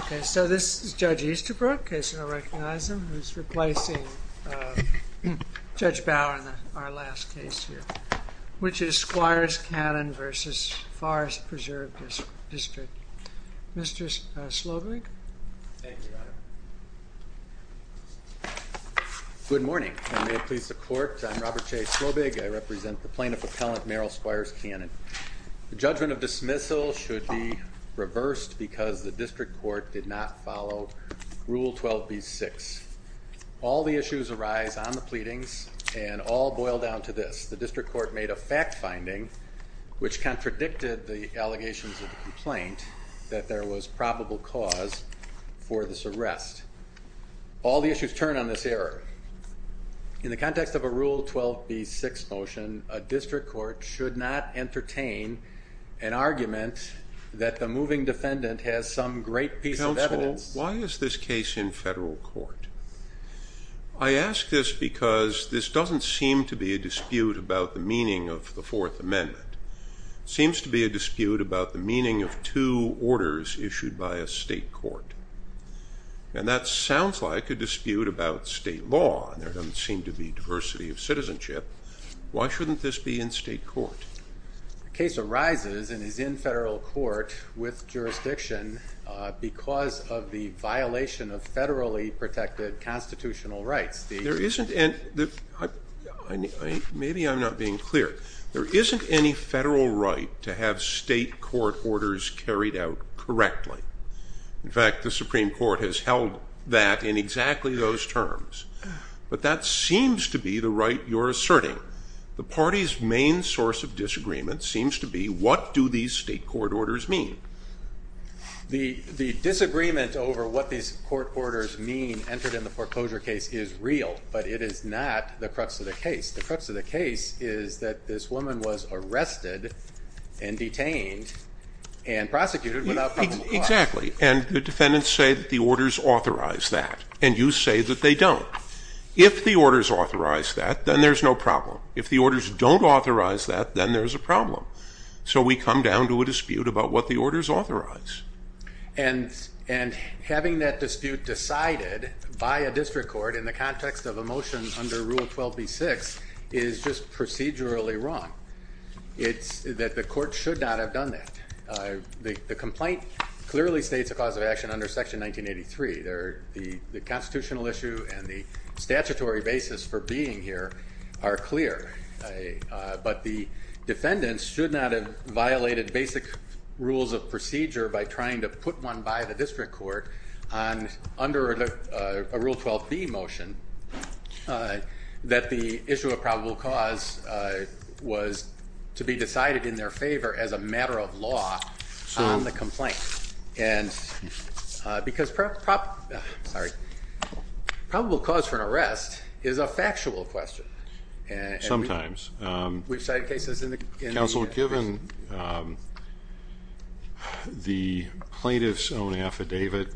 Okay, so this is Judge Easterbrook, in case you don't recognize him, who's replacing Judge Bower in our last case here, which is Squires-Cannon v. Forest Preserve District. Mr. Slobig? Thank you, Your Honor. Good morning, and may it please the Court, I'm Robert J. Slobig. I represent the plaintiff appellant, Meryl Squires-Cannon. The judgment of dismissal should be reversed because the District Court did not follow Rule 12b-6. All the issues arise on the pleadings, and all boil down to this. The District Court made a fact-finding, which contradicted the allegations of the complaint, that there was probable cause for this arrest. All the issues turn on this error. In the context of a Rule 12b-6 motion, a District Court should not entertain an argument that the moving defendant has some great piece of evidence. Counsel, why is this case in federal court? I ask this because this doesn't seem to be a dispute about the meaning of the Fourth Amendment. It seems to be a dispute about the meaning of two orders issued by a state court. And that sounds like a dispute about state law, and there doesn't seem to be diversity of citizenship. Why shouldn't this be in state court? The case arises and is in federal court with jurisdiction because of the violation of federally protected constitutional rights. Maybe I'm not being clear. There isn't any federal right to have state court orders carried out correctly. In fact, the Supreme Court has held that in exactly those terms. But that seems to be the right you're asserting. The party's main source of disagreement seems to be, what do these state court orders mean? The disagreement over what these court orders mean entered in the foreclosure case is real, but it is not the crux of the case. The crux of the case is that this woman was arrested and detained and prosecuted without probable cause. Exactly, and the defendants say that the orders authorize that, and you say that they don't. If the orders authorize that, then there's no problem. If the orders don't authorize that, then there's a problem. So we come down to a dispute about what the orders authorize. And having that dispute decided by a district court in the context of a motion under Rule 12b-6 is just procedurally wrong. It's that the court should not have done that. The complaint clearly states a cause of action under Section 1983. The constitutional issue and the statutory basis for being here are clear. But the defendants should not have violated basic rules of procedure by trying to put one by the district court under a Rule 12b motion that the issue of probable cause was to be decided in their favor as a matter of law on the complaint. Because probable cause for an arrest is a factual question. Sometimes. Counsel, given the plaintiff's own affidavit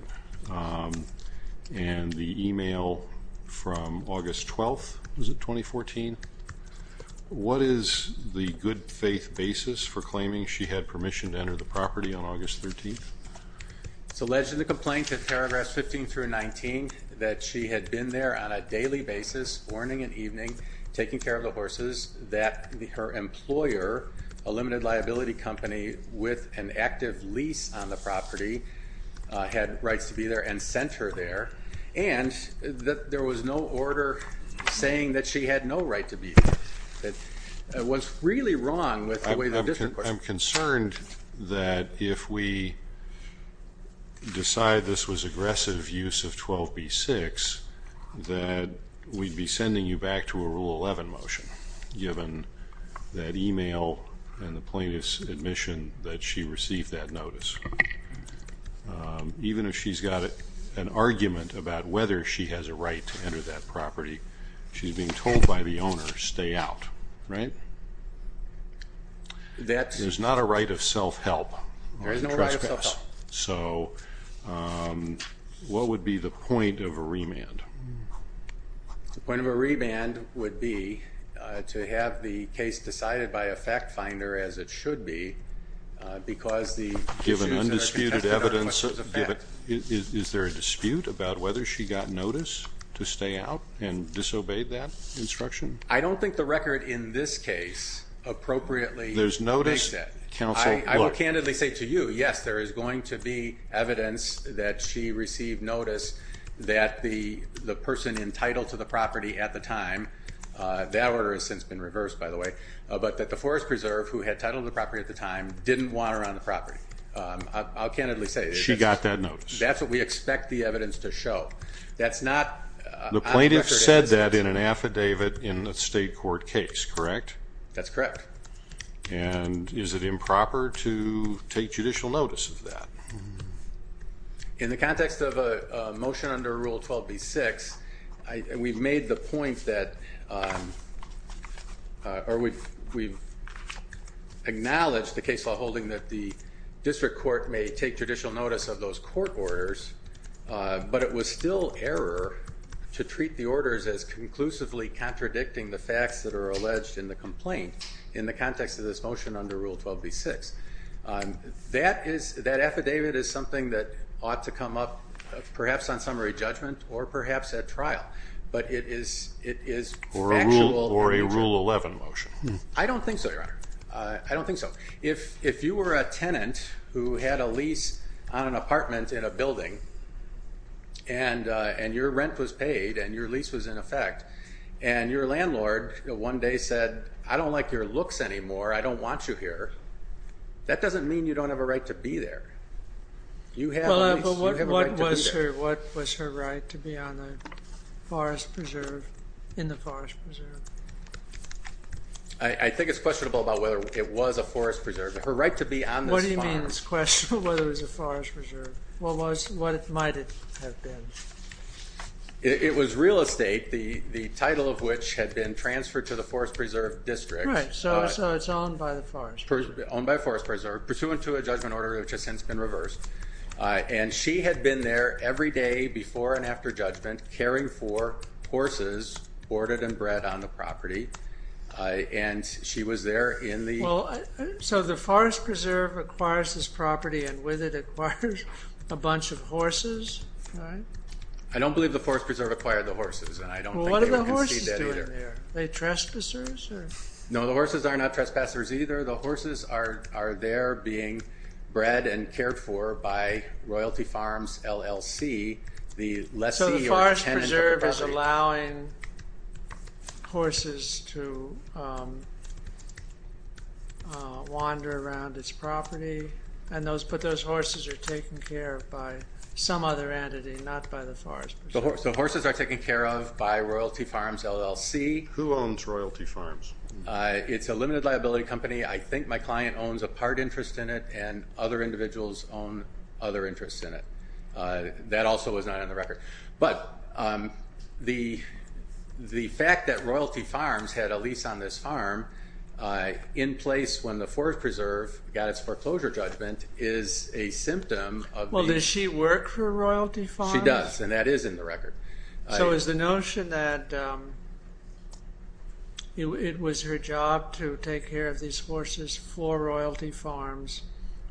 and the email from August 12th, was it 2014? What is the good faith basis for claiming she had permission to enter the property on August 13th? It's alleged in the complaint in paragraphs 15 through 19 that she had been there on a daily basis, morning and evening, taking care of the horses, that her employer, a limited liability company with an active lease on the property, had rights to be there and sent her there, and that there was no order saying that she had no right to be there. It was really wrong with the way the district court- I'm concerned that if we decide this was aggressive use of 12b-6, that we'd be sending you back to a Rule 11 motion given that email and the plaintiff's admission that she received that notice. Even if she's got an argument about whether she has a right to enter that property, she's being told by the owner, stay out. Right? There's not a right of self-help. There is no right of self-help. So what would be the point of a remand? The point of a remand would be to have the case decided by a fact finder, as it should be, because the- Given undisputed evidence, is there a dispute about whether she got notice to stay out and disobeyed that instruction? I don't think the record in this case appropriately- There's notice- I will candidly say to you, yes, there is going to be evidence that she received notice that the person entitled to the property at the time- that order has since been reversed, by the way- but that the Forest Preserve, who had titled the property at the time, didn't want her on the property. I'll candidly say- She got that notice. That's what we expect the evidence to show. That's not- The plaintiff said that in an affidavit in a state court case, correct? That's correct. And is it improper to take judicial notice of that? In the context of a motion under Rule 12b-6, we've made the point that- as conclusively contradicting the facts that are alleged in the complaint in the context of this motion under Rule 12b-6. That affidavit is something that ought to come up perhaps on summary judgment or perhaps at trial. But it is factual- Or a Rule 11 motion. I don't think so, Your Honor. I don't think so. If you were a tenant who had a lease on an apartment in a building, and your rent was paid and your lease was in effect, and your landlord one day said, I don't like your looks anymore, I don't want you here, that doesn't mean you don't have a right to be there. You have a right to be there. What was her right to be on the Forest Preserve, in the Forest Preserve? I think it's questionable about whether it was a Forest Preserve. What do you mean it's questionable whether it was a Forest Preserve? What might it have been? It was real estate, the title of which had been transferred to the Forest Preserve District. Right, so it's owned by the Forest Preserve. Owned by Forest Preserve, pursuant to a judgment order which has since been reversed. And she had been there every day, before and after judgment, caring for horses, boarded and bred on the property. And she was there in the... So the Forest Preserve acquires this property, and with it acquires a bunch of horses, right? I don't believe the Forest Preserve acquired the horses, and I don't think anyone can see that either. What do the horses do in there? Are they trespassers? No, the horses are not trespassers either. The horses are there being bred and cared for by Royalty Farms, LLC. So the Forest Preserve is allowing horses to wander around its property, but those horses are taken care of by some other entity, not by the Forest Preserve. So horses are taken care of by Royalty Farms, LLC. Who owns Royalty Farms? It's a limited liability company. I think my client owns a part interest in it, and other individuals own other interests in it. That also is not on the record. But the fact that Royalty Farms had a lease on this farm, in place when the Forest Preserve got its foreclosure judgment, is a symptom of... Well, does she work for Royalty Farms? She does, and that is in the record. So is the notion that it was her job to take care of these horses for Royalty Farms,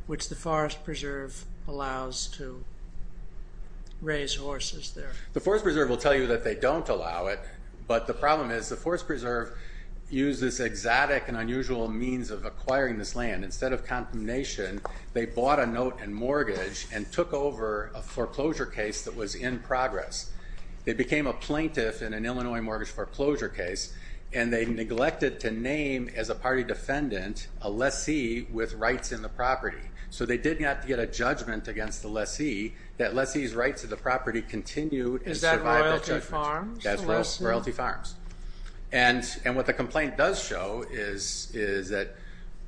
which the Forest Preserve allows to raise horses there? The Forest Preserve will tell you that they don't allow it, but the problem is the Forest Preserve used this exotic and unusual means of acquiring this land. Instead of condemnation, they bought a note and mortgage and took over a foreclosure case that was in progress. They became a plaintiff in an Illinois mortgage foreclosure case, and they neglected to name, as a party defendant, a lessee with rights in the property. So they did not get a judgment against the lessee, that lessee's rights to the property continue in survival judgment. Is that Royalty Farms? That's Royalty Farms. And what the complaint does show is that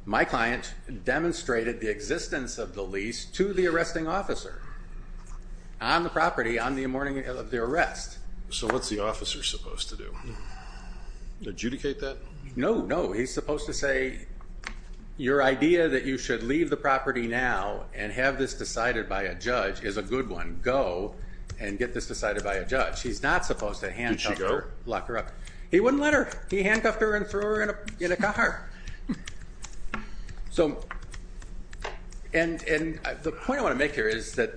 my client demonstrated the existence of the lease to the arresting officer on the property on the morning of the arrest. So what's the officer supposed to do? Adjudicate that? No, no. He's supposed to say, your idea that you should leave the property now and have this decided by a judge is a good one. Go and get this decided by a judge. He's not supposed to handcuff her. Did she go? Lock her up. He wouldn't let her. He handcuffed her and threw her in a car. And the point I want to make here is that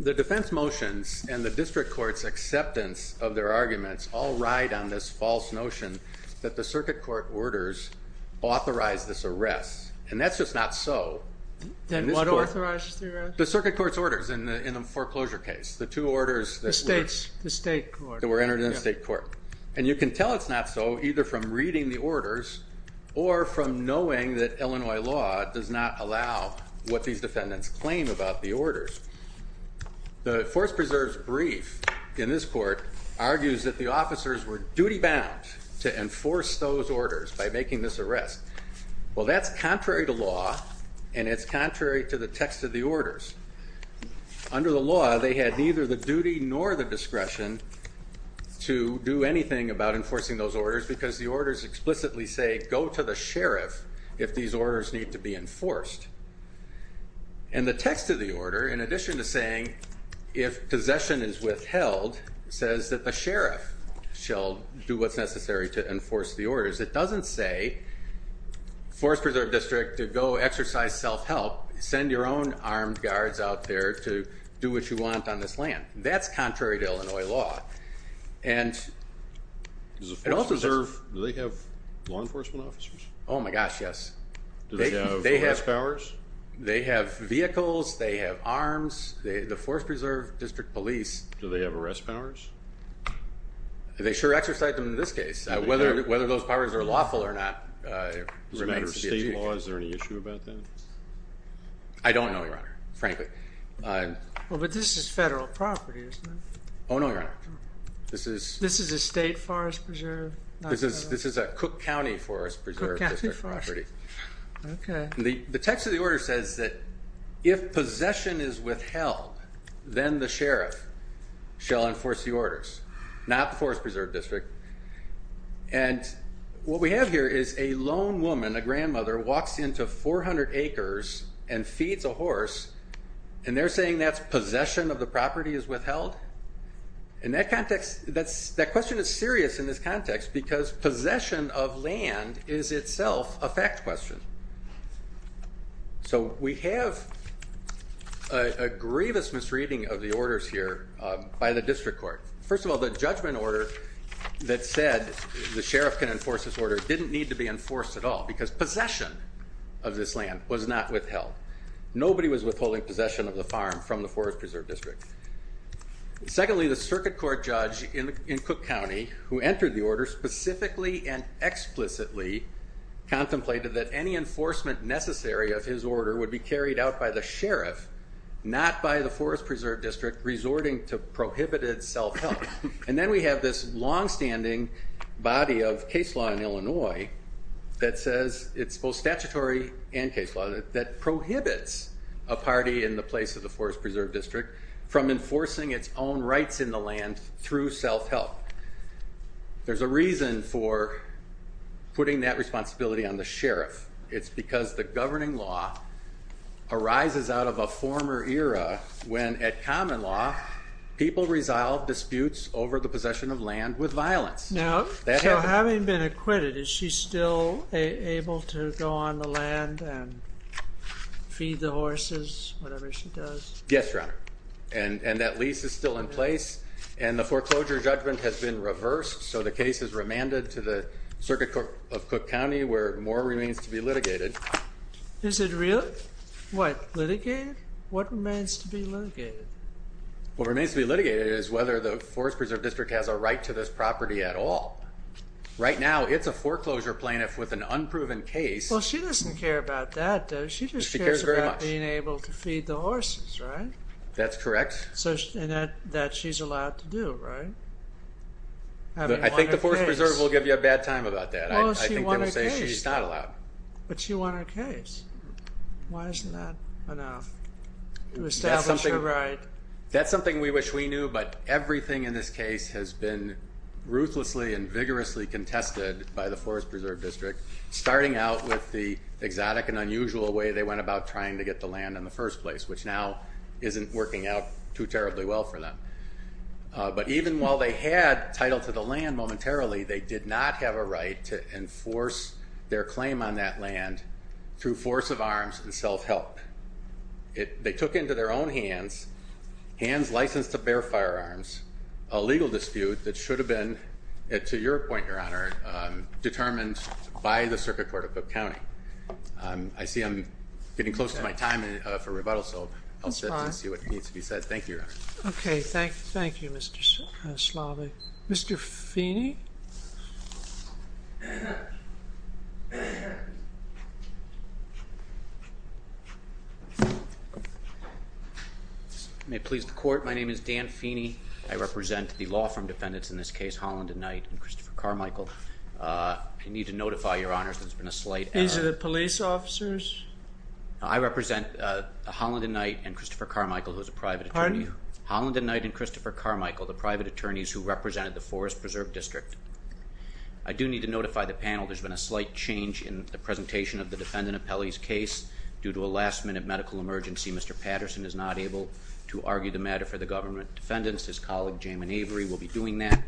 the defense motions and the district court's acceptance of their arguments all ride on this false notion that the circuit court orders authorized this arrest. And that's just not so. Then what authorizes the arrest? The circuit court's orders in the foreclosure case. The two orders that were entered in the state court. And you can tell it's not so either from reading the orders or from knowing that Illinois law does not allow what these defendants claim about the orders. The force preserves brief in this court argues that the officers were duty bound to enforce those orders by making this arrest. Well, that's contrary to law, and it's contrary to the text of the orders. Under the law, they had neither the duty nor the discretion to do anything about enforcing those orders because the orders explicitly say go to the sheriff if these orders need to be enforced. And the text of the order, in addition to saying if possession is withheld, says that the sheriff shall do what's necessary to enforce the orders. It doesn't say force preserve district to go exercise self-help, send your own armed guards out there to do what you want on this land. That's contrary to Illinois law. Does the force preserve, do they have law enforcement officers? Oh, my gosh, yes. Do they have arrest powers? They have vehicles. They have arms. The force preserve district police. Do they have arrest powers? They sure exercise them in this case. Whether those powers are lawful or not remains to be achieved. Is there any issue about that? I don't know, Your Honor, frankly. Well, but this is federal property, isn't it? Oh, no, Your Honor. This is a state forest preserve? This is a Cook County forest preserve district property. Okay. The text of the order says that if possession is withheld, then the sheriff shall enforce the orders, not the force preserve district. And what we have here is a lone woman, a grandmother, walks into 400 acres and feeds a horse, and they're saying that's possession of the property is withheld? And that question is serious in this context because possession of land is itself a fact question. So we have a grievous misreading of the orders here by the district court. First of all, the judgment order that said the sheriff can enforce this order didn't need to be enforced at all because possession of this land was not withheld. Nobody was withholding possession of the farm from the forest preserve district. Secondly, the circuit court judge in Cook County who entered the order specifically and explicitly contemplated that any enforcement necessary of his order would be carried out by the sheriff, not by the forest preserve district resorting to prohibited self-help. And then we have this longstanding body of case law in Illinois that says it's both statutory and case law that prohibits a party in the place of the forest preserve district from enforcing its own rights in the land through self-help. There's a reason for putting that responsibility on the sheriff. It's because the governing law arises out of a former era when at common law people resolve disputes over the possession of land with violence. So having been acquitted, is she still able to go on the land and feed the horses, whatever she does? Yes, Your Honor. And that lease is still in place and the foreclosure judgment has been reversed. So the case is remanded to the circuit court of Cook County where more remains to be litigated. Is it really, what, litigated? What remains to be litigated? What remains to be litigated is whether the forest preserve district has a right to this property at all. Right now it's a foreclosure plaintiff with an unproven case. Well, she doesn't care about that, does she? She cares about being able to feed the horses, right? That's correct. And that she's allowed to do, right? I think the forest preserve will give you a bad time about that. I think they will say she's not allowed. But she won her case. Why isn't that enough to establish her right? That's something we wish we knew, but everything in this case has been ruthlessly and vigorously contested by the forest preserve district, starting out with the exotic and unusual way they went about trying to get the land in the first place, which now isn't working out too terribly well for them. But even while they had title to the land momentarily, they did not have a right to enforce their claim on that land through force of arms and self-help. They took into their own hands, hands licensed to bear firearms, a legal dispute that should have been, to your point, Your Honor, determined by the circuit court of Cook County. I see I'm getting close to my time for rebuttal, so I'll sit and see what needs to be said. Thank you, Your Honor. Okay. Thank you, Mr. Slavik. Mr. Feeney. May it please the court. My name is Dan Feeney. I represent the law firm defendants in this case, Holland and Knight and Christopher Carmichael. I need to notify your honors, there's been a slight error. These are the police officers? I represent Holland and Knight and Christopher Carmichael, who is a private attorney. Pardon? Holland and Knight and Christopher Carmichael, the private attorneys who represented the Forest Preserve District. I do need to notify the panel there's been a slight change in the presentation of the defendant appellee's case. Due to a last-minute medical emergency, Mr. Patterson is not able to argue the matter for the government defendants. His colleague, Jamin Avery, will be doing that,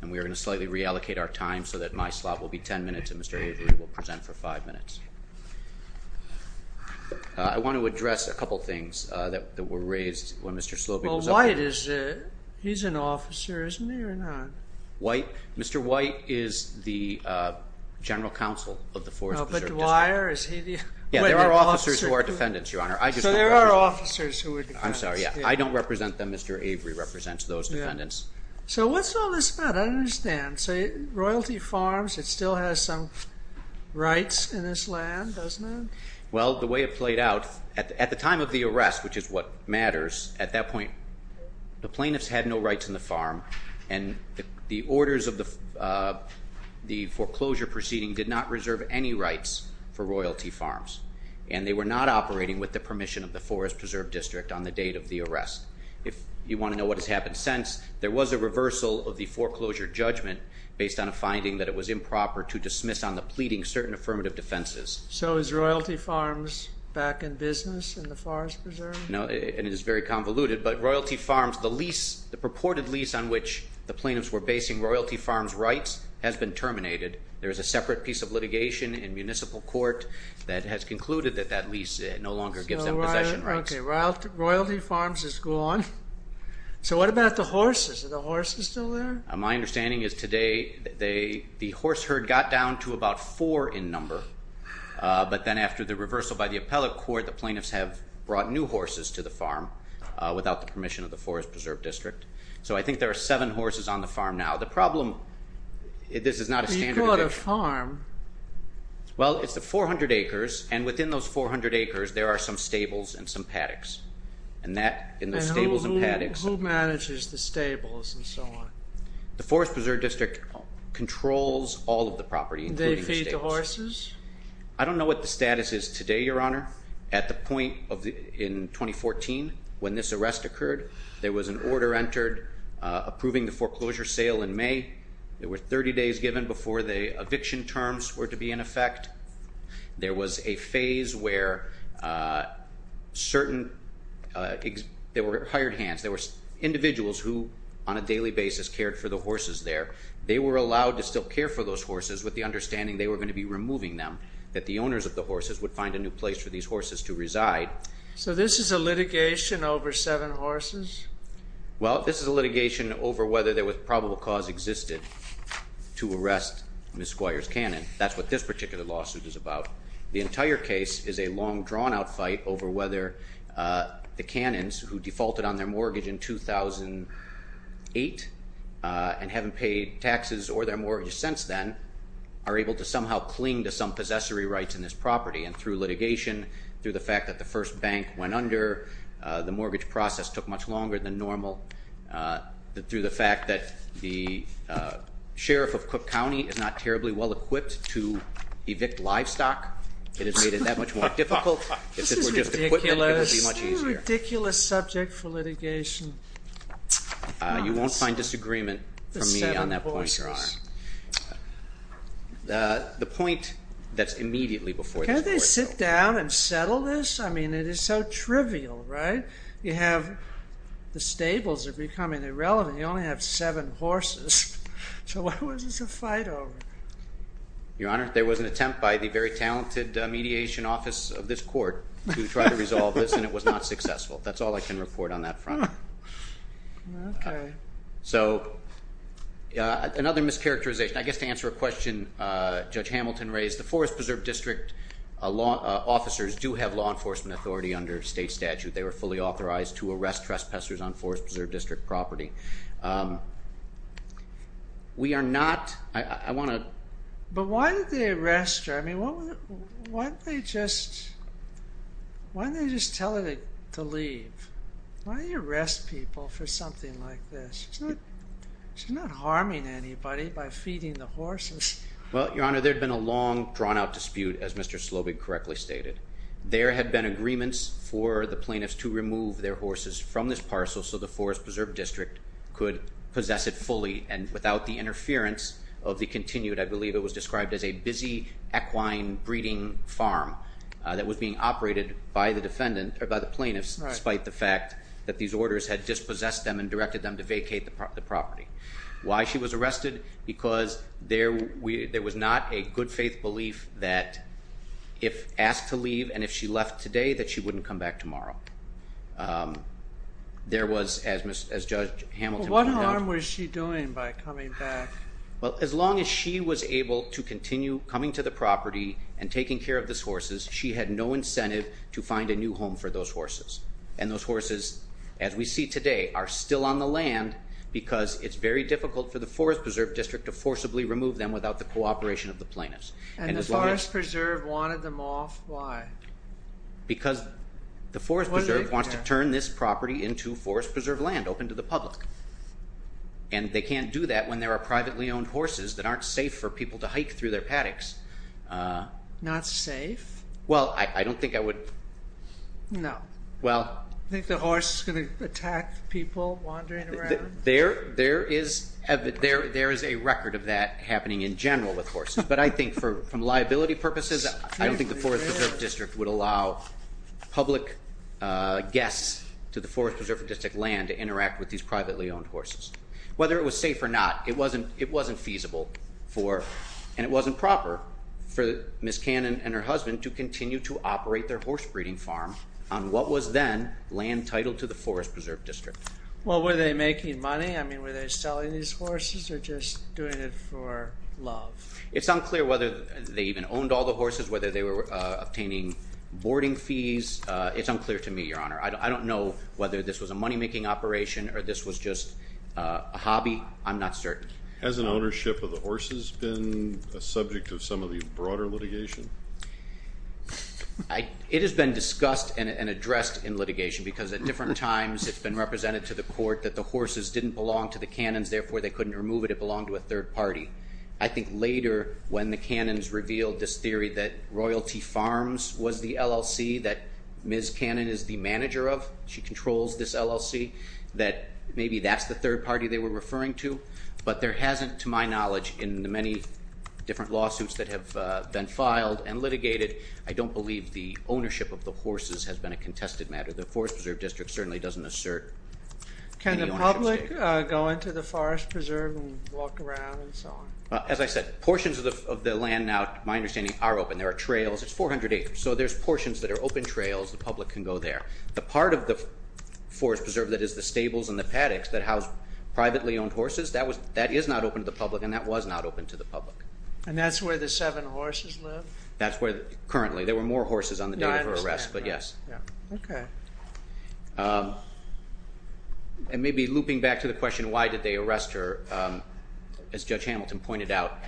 and we are going to slightly reallocate our time so that my slot will be 10 minutes and Mr. Avery will present for five minutes. He's an officer, isn't he, or not? Mr. White is the general counsel of the Forest Preserve District. But Dwyer, is he the... There are officers who are defendants, Your Honor. So there are officers who are defendants. I'm sorry, I don't represent them. Mr. Avery represents those defendants. So what's all this about? I don't understand. Royalty Farms, it still has some rights in this land, doesn't it? Well, the way it played out, at the time of the arrest, which is what matters, at that point the plaintiffs had no rights in the farm and the orders of the foreclosure proceeding did not reserve any rights for Royalty Farms, and they were not operating with the permission of the Forest Preserve District on the date of the arrest. If you want to know what has happened since, there was a reversal of the foreclosure judgment based on a finding that it was improper to dismiss on the pleading certain affirmative defenses. So is Royalty Farms back in business in the Forest Preserve? No, and it is very convoluted, but Royalty Farms, the lease, the purported lease on which the plaintiffs were basing Royalty Farms' rights has been terminated. There is a separate piece of litigation in municipal court that has concluded that that lease no longer gives them possession rights. Royalty Farms is gone. So what about the horses? Are the horses still there? My understanding is today the horse herd got down to about four in number. But then after the reversal by the appellate court, the plaintiffs have brought new horses to the farm without the permission of the Forest Preserve District. So I think there are seven horses on the farm now. The problem, this is not a standard eviction. You caught a farm? Well, it's the 400 acres, and within those 400 acres there are some stables and some paddocks. And that, in those stables and paddocks... And who manages the stables and so on? The Forest Preserve District controls all of the property, including the stables. They feed the horses? I don't know what the status is today, Your Honor. At the point in 2014, when this arrest occurred, there was an order entered approving the foreclosure sale in May. There were 30 days given before the eviction terms were to be in effect. There was a phase where certain... There were hired hands. There were individuals who, on a daily basis, cared for the horses there. They were allowed to still care for those horses with the understanding they were going to be removing them, that the owners of the horses would find a new place for these horses to reside. So this is a litigation over seven horses? Well, this is a litigation over whether there was probable cause existed to arrest Ms. Squires Cannon. That's what this particular lawsuit is about. The entire case is a long, drawn-out fight over whether the Cannons, who defaulted on their mortgage in 2008 and haven't paid taxes or their mortgage since then, are able to somehow cling to some possessory rights in this property. And through litigation, through the fact that the first bank went under, the mortgage process took much longer than normal. Through the fact that the sheriff of Cook County is not terribly well-equipped to evict livestock, it has made it that much more difficult. If this were just equipment, it would be much easier. This is a ridiculous subject for litigation. You won't find disagreement from me on that point, Your Honor. The point that's immediately before this court... Can't they sit down and settle this? I mean, it is so trivial, right? You have the stables are becoming irrelevant. You only have seven horses. So what was this a fight over? Your Honor, there was an attempt by the very talented mediation office of this court to try to resolve this, and it was not successful. That's all I can report on that front. Okay. So another mischaracterization. I guess to answer a question Judge Hamilton raised, the Forest Preserve District officers do have law enforcement authority under state statute. They were fully authorized to arrest trespassers on Forest Preserve District property. We are not... I want to... But why did they arrest her? I mean, why didn't they just... Why didn't they just tell her to leave? Why do you arrest people for something like this? She's not harming anybody by feeding the horses. Well, Your Honor, there had been a long, drawn-out dispute, as Mr Slobig correctly stated. There had been agreements for the plaintiffs to remove their horses from this parcel so the Forest Preserve District could possess it fully and without the interference of the continued, I believe it was described as a busy equine-breeding farm that was being operated by the plaintiffs, despite the fact that these orders had dispossessed them and directed them to vacate the property. Why she was arrested? Because there was not a good-faith belief that if asked to leave and if she left today, that she wouldn't come back tomorrow. There was, as Judge Hamilton pointed out... What harm was she doing by coming back? Well, as long as she was able to continue coming to the property and taking care of these horses, she had no incentive to find a new home for those horses. And those horses, as we see today, are still on the land because it's very difficult for the Forest Preserve District to forcibly remove them without the cooperation of the plaintiffs. And the Forest Preserve wanted them off? Why? Because the Forest Preserve wants to turn this property into Forest Preserve land, open to the public. And they can't do that when there are privately owned horses that aren't safe for people to hike through their paddocks. Not safe? Well, I don't think I would... No. Well... You think the horse is going to attack people wandering around? There is a record of that happening in general with horses. But I think from liability purposes, I don't think the Forest Preserve District would allow public guests to the Forest Preserve District land to interact with these privately owned horses. Whether it was safe or not, it wasn't feasible for... And it wasn't proper for Ms. Cannon and her husband to continue to operate their horse breeding farm on what was then land titled to the Forest Preserve District. Well, were they making money? I mean, were they selling these horses or just doing it for love? It's unclear whether they even owned all the horses, whether they were obtaining boarding fees. It's unclear to me, Your Honor. I don't know whether this was a money-making operation or this was just a hobby. I'm not certain. Has an ownership of the horses been a subject of some of the broader litigation? It has been discussed and addressed in litigation because at different times it's been represented to the court that the horses didn't belong to the Cannons, therefore they couldn't remove it, it belonged to a third party. I think later, when the Cannons revealed this theory that Royalty Farms was the LLC, that Ms. Cannon is the manager of, she controls this LLC, that maybe that's the third party they were referring to. But there hasn't, to my knowledge, in the many different lawsuits that have been filed and litigated, I don't believe the ownership of the horses has been a contested matter. The Forest Preserve District certainly doesn't assert any ownership. Can the public go into the Forest Preserve and walk around and so on? As I said, portions of the land now, my understanding, are open. There are trails. It's 400 acres. So there's portions that are open trails, the public can go there. The part of the Forest Preserve that is the stables and the paddocks that house privately owned horses, that is not open to the public and that was not open to the public. And that's where the seven horses live? That's where, currently. There were more horses on the day of her arrest, but yes. Okay. And maybe looping back to the question, why did they arrest her? As Judge Hamilton pointed out,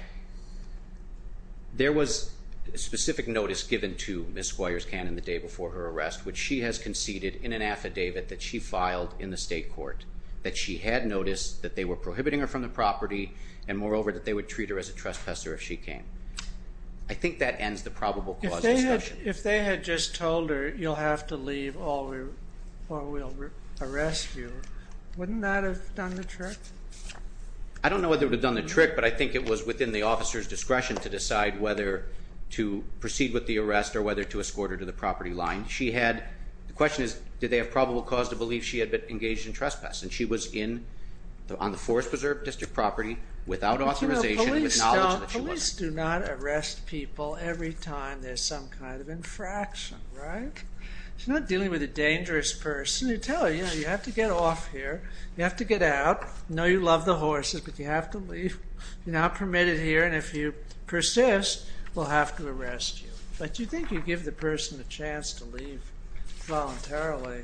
there was a specific notice given to Ms. Squires Cannon the day before her arrest, which she has conceded in an affidavit that she filed in the state court, that she had noticed that they were prohibiting her from the property and moreover that they would treat her as a trespasser if she came. I think that ends the probable cause discussion. If they had just told her, you'll have to leave or we'll arrest you, wouldn't that have done the trick? I don't know whether it would have done the trick, but I think it was within the officer's discretion to decide whether to proceed with the arrest or whether to escort her to the property line. She had, the question is, did they have probable cause to believe she had been engaged in trespass and she was on the Forest Preserve District property without authorization and with knowledge that she wasn't. Police do not arrest people every time there's some kind of infraction, right? She's not dealing with a dangerous person. You tell her, you have to get off here, you have to get out, I know you love the horses, but you have to leave. You're not permitted here and if you persist, we'll have to arrest you. But do you think you give the person a chance to leave voluntarily?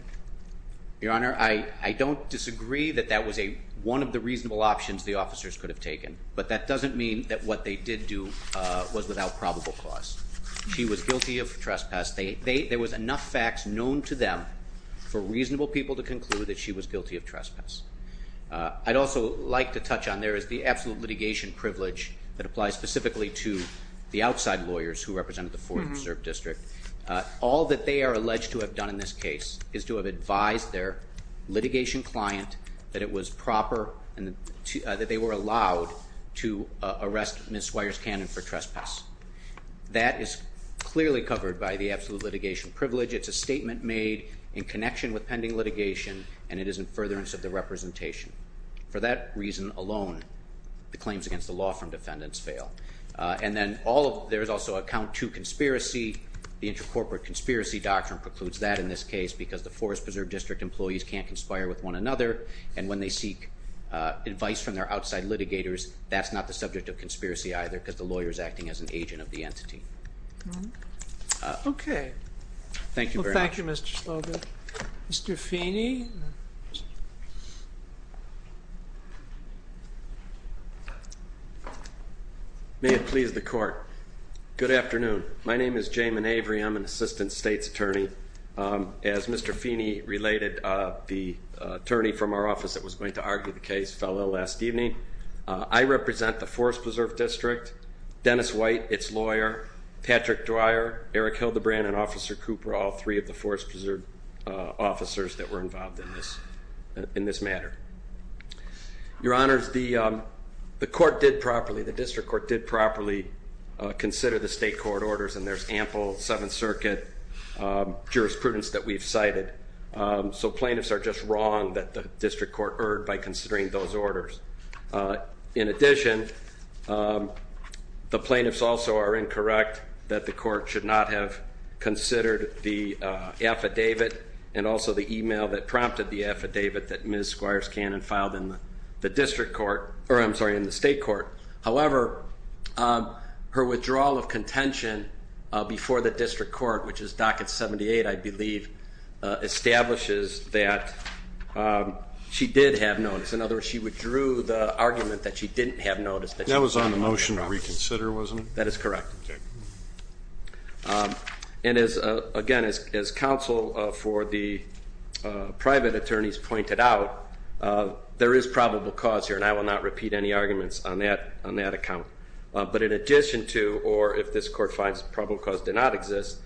Your Honor, I don't disagree that that was one of the reasonable options the officers could have taken, but that doesn't mean that what they did do was without probable cause. She was guilty of trespass. There was enough facts known to them for reasonable people to conclude that she was guilty of trespass. I'd also like to touch on there is the absolute litigation privilege that applies specifically to the outside lawyers who represented the Forest Preserve District. All that they are alleged to have done in this case is to have advised their litigation client that it was proper and that they were allowed to arrest Ms. Swires Cannon for trespass. That is clearly covered by the absolute litigation privilege. It's a statement made in connection with pending litigation and it is in furtherance of the representation. For that reason alone, the claims against the law from defendants fail. There is also a count to conspiracy. The intercorporate conspiracy doctrine precludes that in this case because the Forest Preserve District employees can't conspire with one another and when they seek advice from their outside litigators, that's not the subject of conspiracy either because the lawyer is acting as an agent of the entity. Okay. Thank you very much. Thank you, Mr. Slogan. Mr. Feeney. May it please the court. Good afternoon. My name is Jamin Avery. I'm an assistant state's attorney. As Mr. Feeney related, the attorney from our office that was going to argue the case fell ill last evening. I represent the Forest Preserve District, Dennis White, its lawyer, Patrick Dwyer, Eric Hildebrand, and Officer Cooper, all three of the Forest Preserve officers that were involved in this matter. Your Honors, the court did properly, the district court did properly, consider the state court orders and there's ample Seventh Circuit jurisprudence that we've cited. So plaintiffs are just wrong that the district court erred by considering those orders. In addition, the plaintiffs also are incorrect that the court should not have considered the affidavit and also the email that prompted the affidavit that Ms. Squires Cannon filed in the state court. However, her withdrawal of contention before the district court, which is docket 78, I believe, establishes that she did have notice. In other words, she withdrew the argument that she didn't have notice. That was on the motion to reconsider, wasn't it? That is correct. And again, as counsel for the private attorneys pointed out, there is probable cause here and I will not repeat any arguments on that account. But in addition to, or if this court finds probable cause did not exist,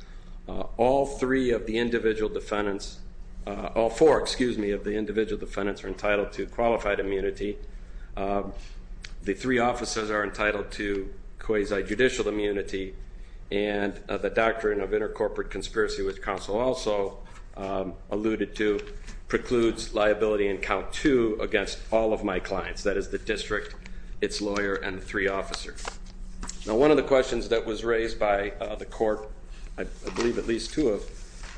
all four of the individual defendants are entitled to qualified immunity. The three officers are entitled to quasi-judicial immunity and the doctrine of intercorporate conspiracy, which counsel also alluded to, precludes liability in count two against all of my clients. That is the district, its lawyer, and the three officers. Now one of the questions that was raised by the court, I believe at least two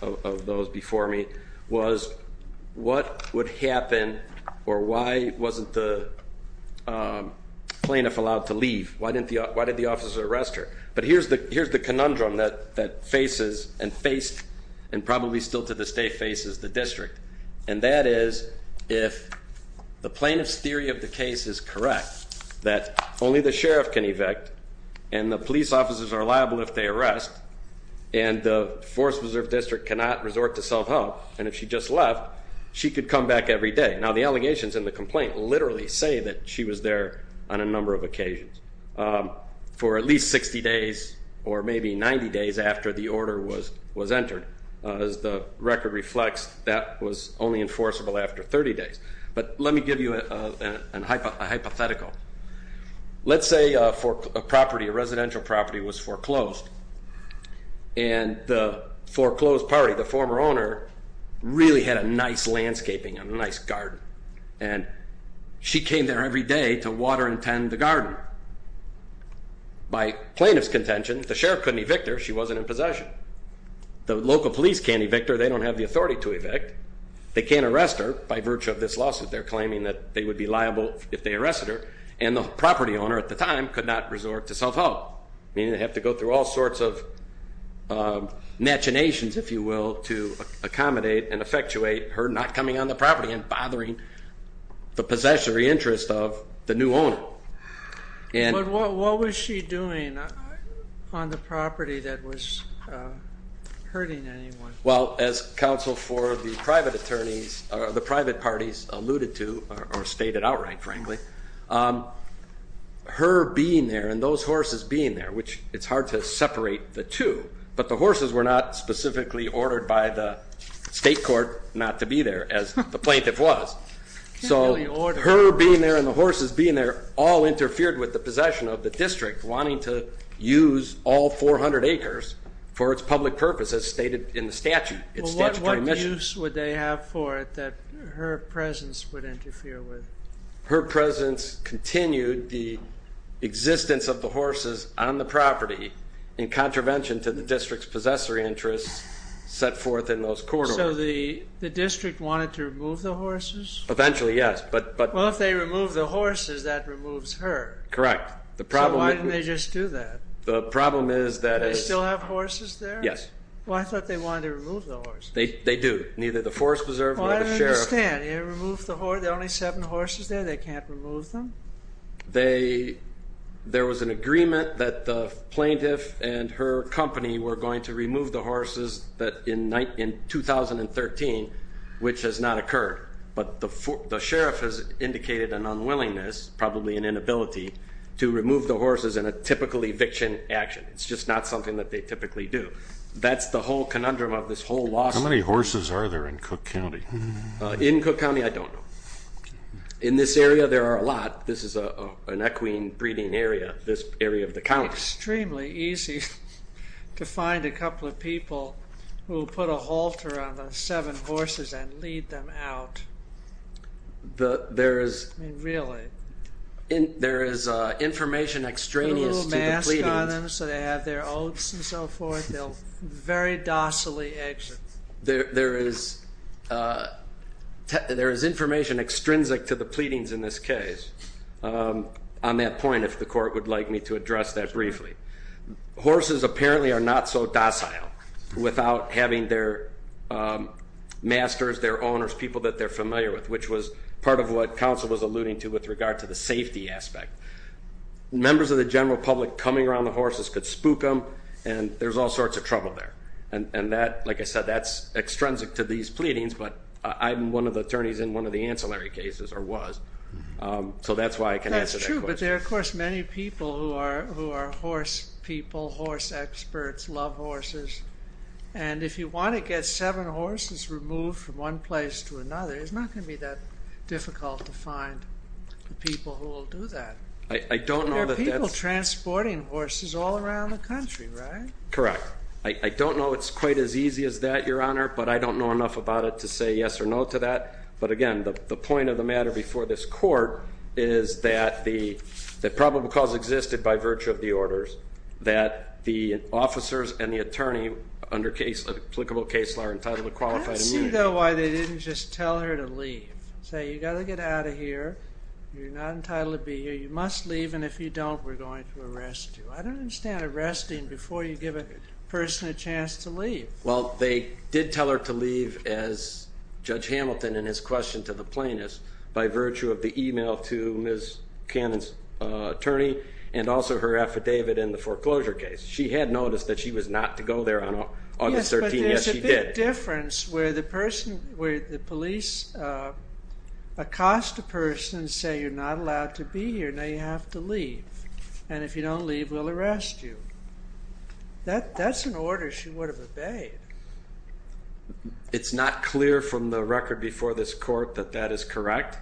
of those before me, was what would happen or why wasn't the plaintiff allowed to leave? Why did the officer arrest her? But here's the conundrum that faces and faced and probably still to this day faces the district. And that is if the plaintiff's theory of the case is correct, that only the sheriff can evict and the police officers are liable if they arrest and the Forest Preserve District cannot resort to self-help and if she just left, she could come back every day. Now the allegations in the complaint literally say that she was there on a number of occasions for at least 60 days or maybe 90 days after the order was entered. As the record reflects, that was only enforceable after 30 days. But let me give you a hypothetical. Let's say a residential property was foreclosed and the foreclosed party, the former owner, really had a nice landscaping and a nice garden and she came there every day to water and tend the garden. By plaintiff's contention, the sheriff couldn't evict her. She wasn't in possession. The local police can't evict her. They don't have the authority to evict. They can't arrest her by virtue of this lawsuit. They're claiming that they would be liable if they arrested her and the property owner at the time could not resort to self-help, meaning they have to go through all sorts of machinations, if you will, to accommodate and effectuate her not coming on the property and bothering the possessory interest of the new owner. But what was she doing on the property that was hurting anyone? Well, as counsel for the private parties alluded to or stated outright, frankly, her being there and those horses being there, which it's hard to separate the two, but the horses were not specifically ordered by the state court not to be there, as the plaintiff was. So her being there and the horses being there all interfered with the possession of the district wanting to use all 400 acres for its public purpose, as stated in the statute. Well, what use would they have for it that her presence would interfere with it? Her presence continued the existence of the horses on the property in contravention to the district's possessory interests set forth in those court orders. So the district wanted to remove the horses? Eventually, yes, but... Well, if they remove the horses, that removes her. Correct. So why didn't they just do that? The problem is that... Do they still have horses there? Yes. Well, I thought they wanted to remove the horses. They do. Neither the Forest Preserve nor the sheriff... I don't understand. They only have seven horses there. They can't remove them? There was an agreement that the plaintiff and her company were going to remove the horses in 2013, which has not occurred. But the sheriff has indicated an unwillingness, probably an inability, to remove the horses in a typical eviction action. It's just not something that they typically do. That's the whole conundrum of this whole lawsuit. How many horses are there in Cook County? In Cook County, I don't know. In this area, there are a lot. This is an equine breeding area, this area of the county. Extremely easy to find a couple of people who will put a halter on the seven horses and lead them out. Really? There is information extraneous to the pleadings. So they have their oats and so forth. They'll very docilely exit. There is information extrinsic to the pleadings in this case. On that point, if the court would like me to address that briefly. Horses apparently are not so docile without having their masters, their owners, people that they're familiar with, which was part of what counsel was alluding to with regard to the safety aspect. Members of the general public coming around the horses could spook them and there's all sorts of trouble there. Like I said, that's extrinsic to these pleadings, but I'm one of the attorneys in one of the ancillary cases, or was. So that's why I can answer that question. That's true, but there are of course many people who are horse people, horse experts, love horses. And if you want to get seven horses removed from one place to another, it's not going to be that difficult to find the people who will do that. There are people transporting horses all around the country, right? Correct. I don't know it's quite as easy as that, Your Honor, but I don't know enough about it to say yes or no to that. But again, the point of the matter before this court is that probable cause existed by virtue of the orders that the officers and the attorney under applicable case law are entitled to qualified immunity. I see, though, why they didn't just tell her to leave, say you've got to get out of here, you're not entitled to be here, you must leave, and if you don't, we're going to arrest you. I don't understand arresting before you give a person a chance to leave. Well, they did tell her to leave as Judge Hamilton in his question to the plaintiffs by virtue of the email to Ms. Cannon's attorney and also her affidavit in the foreclosure case. She had noticed that she was not to go there on August 13. There's a big difference where the police accost a person and say you're not allowed to be here, now you have to leave, and if you don't leave, we'll arrest you. That's an order she would have obeyed. It's not clear from the record before this court that that is correct,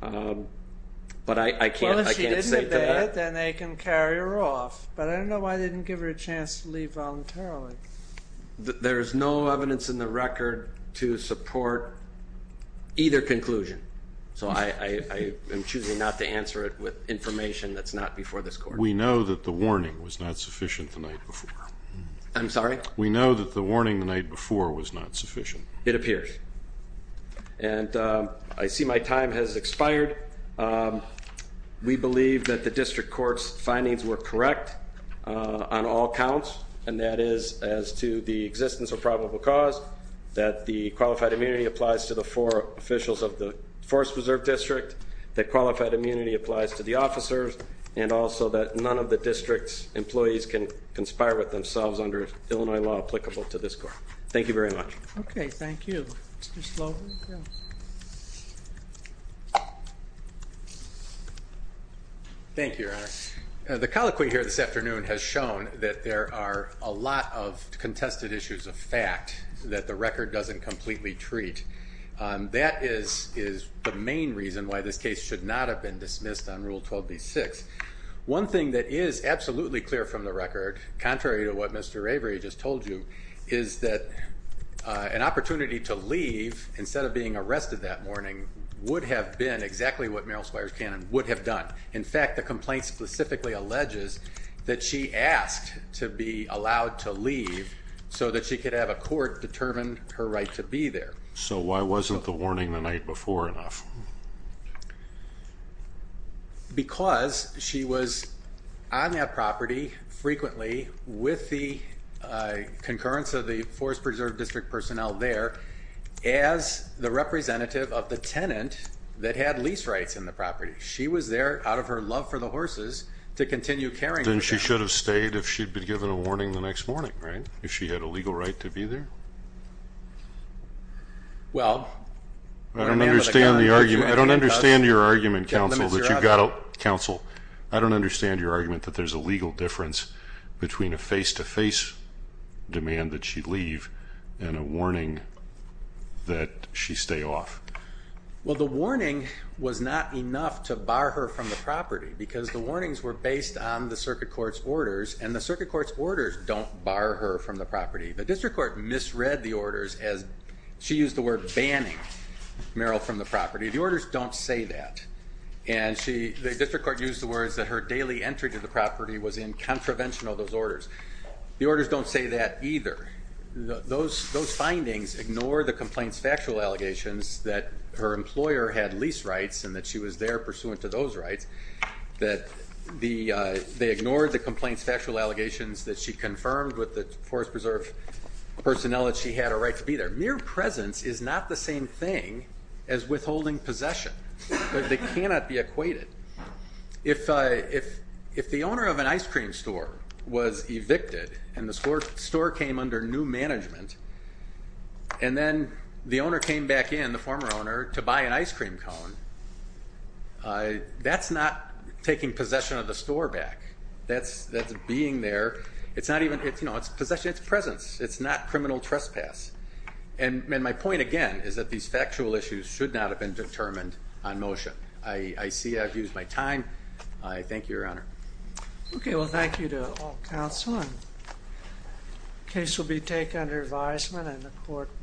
but I can't say to that. Well, if she didn't obey it, then they can carry her off, but I don't know why they didn't give her a chance to leave voluntarily. There is no evidence in the record to support either conclusion, so I am choosing not to answer it with information that's not before this court. We know that the warning was not sufficient the night before. I'm sorry? We know that the warning the night before was not sufficient. It appears. And I see my time has expired. We believe that the district court's findings were correct on all counts, and that is as to the existence of probable cause, that the qualified immunity applies to the four officials of the Forest Preserve District, that qualified immunity applies to the officers, and also that none of the district's employees can conspire with themselves under Illinois law applicable to this court. Thank you very much. Okay. Thank you. Thank you, Your Honor. The colloquy here this afternoon has shown that there are a lot of contested issues of fact that the record doesn't completely treat. That is the main reason why this case should not have been dismissed on Rule 12b-6. One thing that is absolutely clear from the record, contrary to what Mr. Avery just told you, is that an opportunity to leave instead of being arrested that morning would have been exactly what Merrill Squires Cannon would have done. In fact, the complaint specifically alleges that she asked to be allowed to leave so that she could have a court determine her right to be there. So why wasn't the warning the night before enough? Because she was on that property frequently with the concurrence of the Forest Preserve District personnel there as the representative of the tenant that had lease rights in the property. She was there out of her love for the horses to continue caring for them. Then she should have stayed if she'd been given a warning the next morning, right? If she had a legal right to be there? Well, I don't understand the argument. I don't understand your argument, counsel, that you've got to, counsel, I don't understand your argument that there's a legal difference between a face-to-face demand that she leave and a warning that she stay off. Well, the warning was not enough to bar her from the property because the warnings were based on the circuit court's orders and the circuit court's orders don't bar her from the property. The district court misread the orders as she used the word banning Merrill from the property. The orders don't say that. And she, the district court used the words that her daily entry to the property was in contravention of those orders. The orders don't say that either. Those, those findings ignore the complaints, factual allegations that her employer had lease rights and that she was there pursuant to those rights that the, they ignored the complaints, factual allegations that she confirmed with the forest preserve personnel that she had a right to be there. Mere presence is not the same thing as withholding possession, but they cannot be equated. If, if, if the owner of an ice cream store was evicted and the score store came under new management and then the owner came back in, the former owner to buy an ice cream cone, I, that's not taking possession of the store back. That's, that's being there. It's not even, it's, you know, it's possession, it's presence. It's not criminal trespass. And, and my point again is that these factual issues should not have been determined on motion. I, I see I've used my time. I thank you, your honor. Okay. Well, I'm going to take under advisement and the court.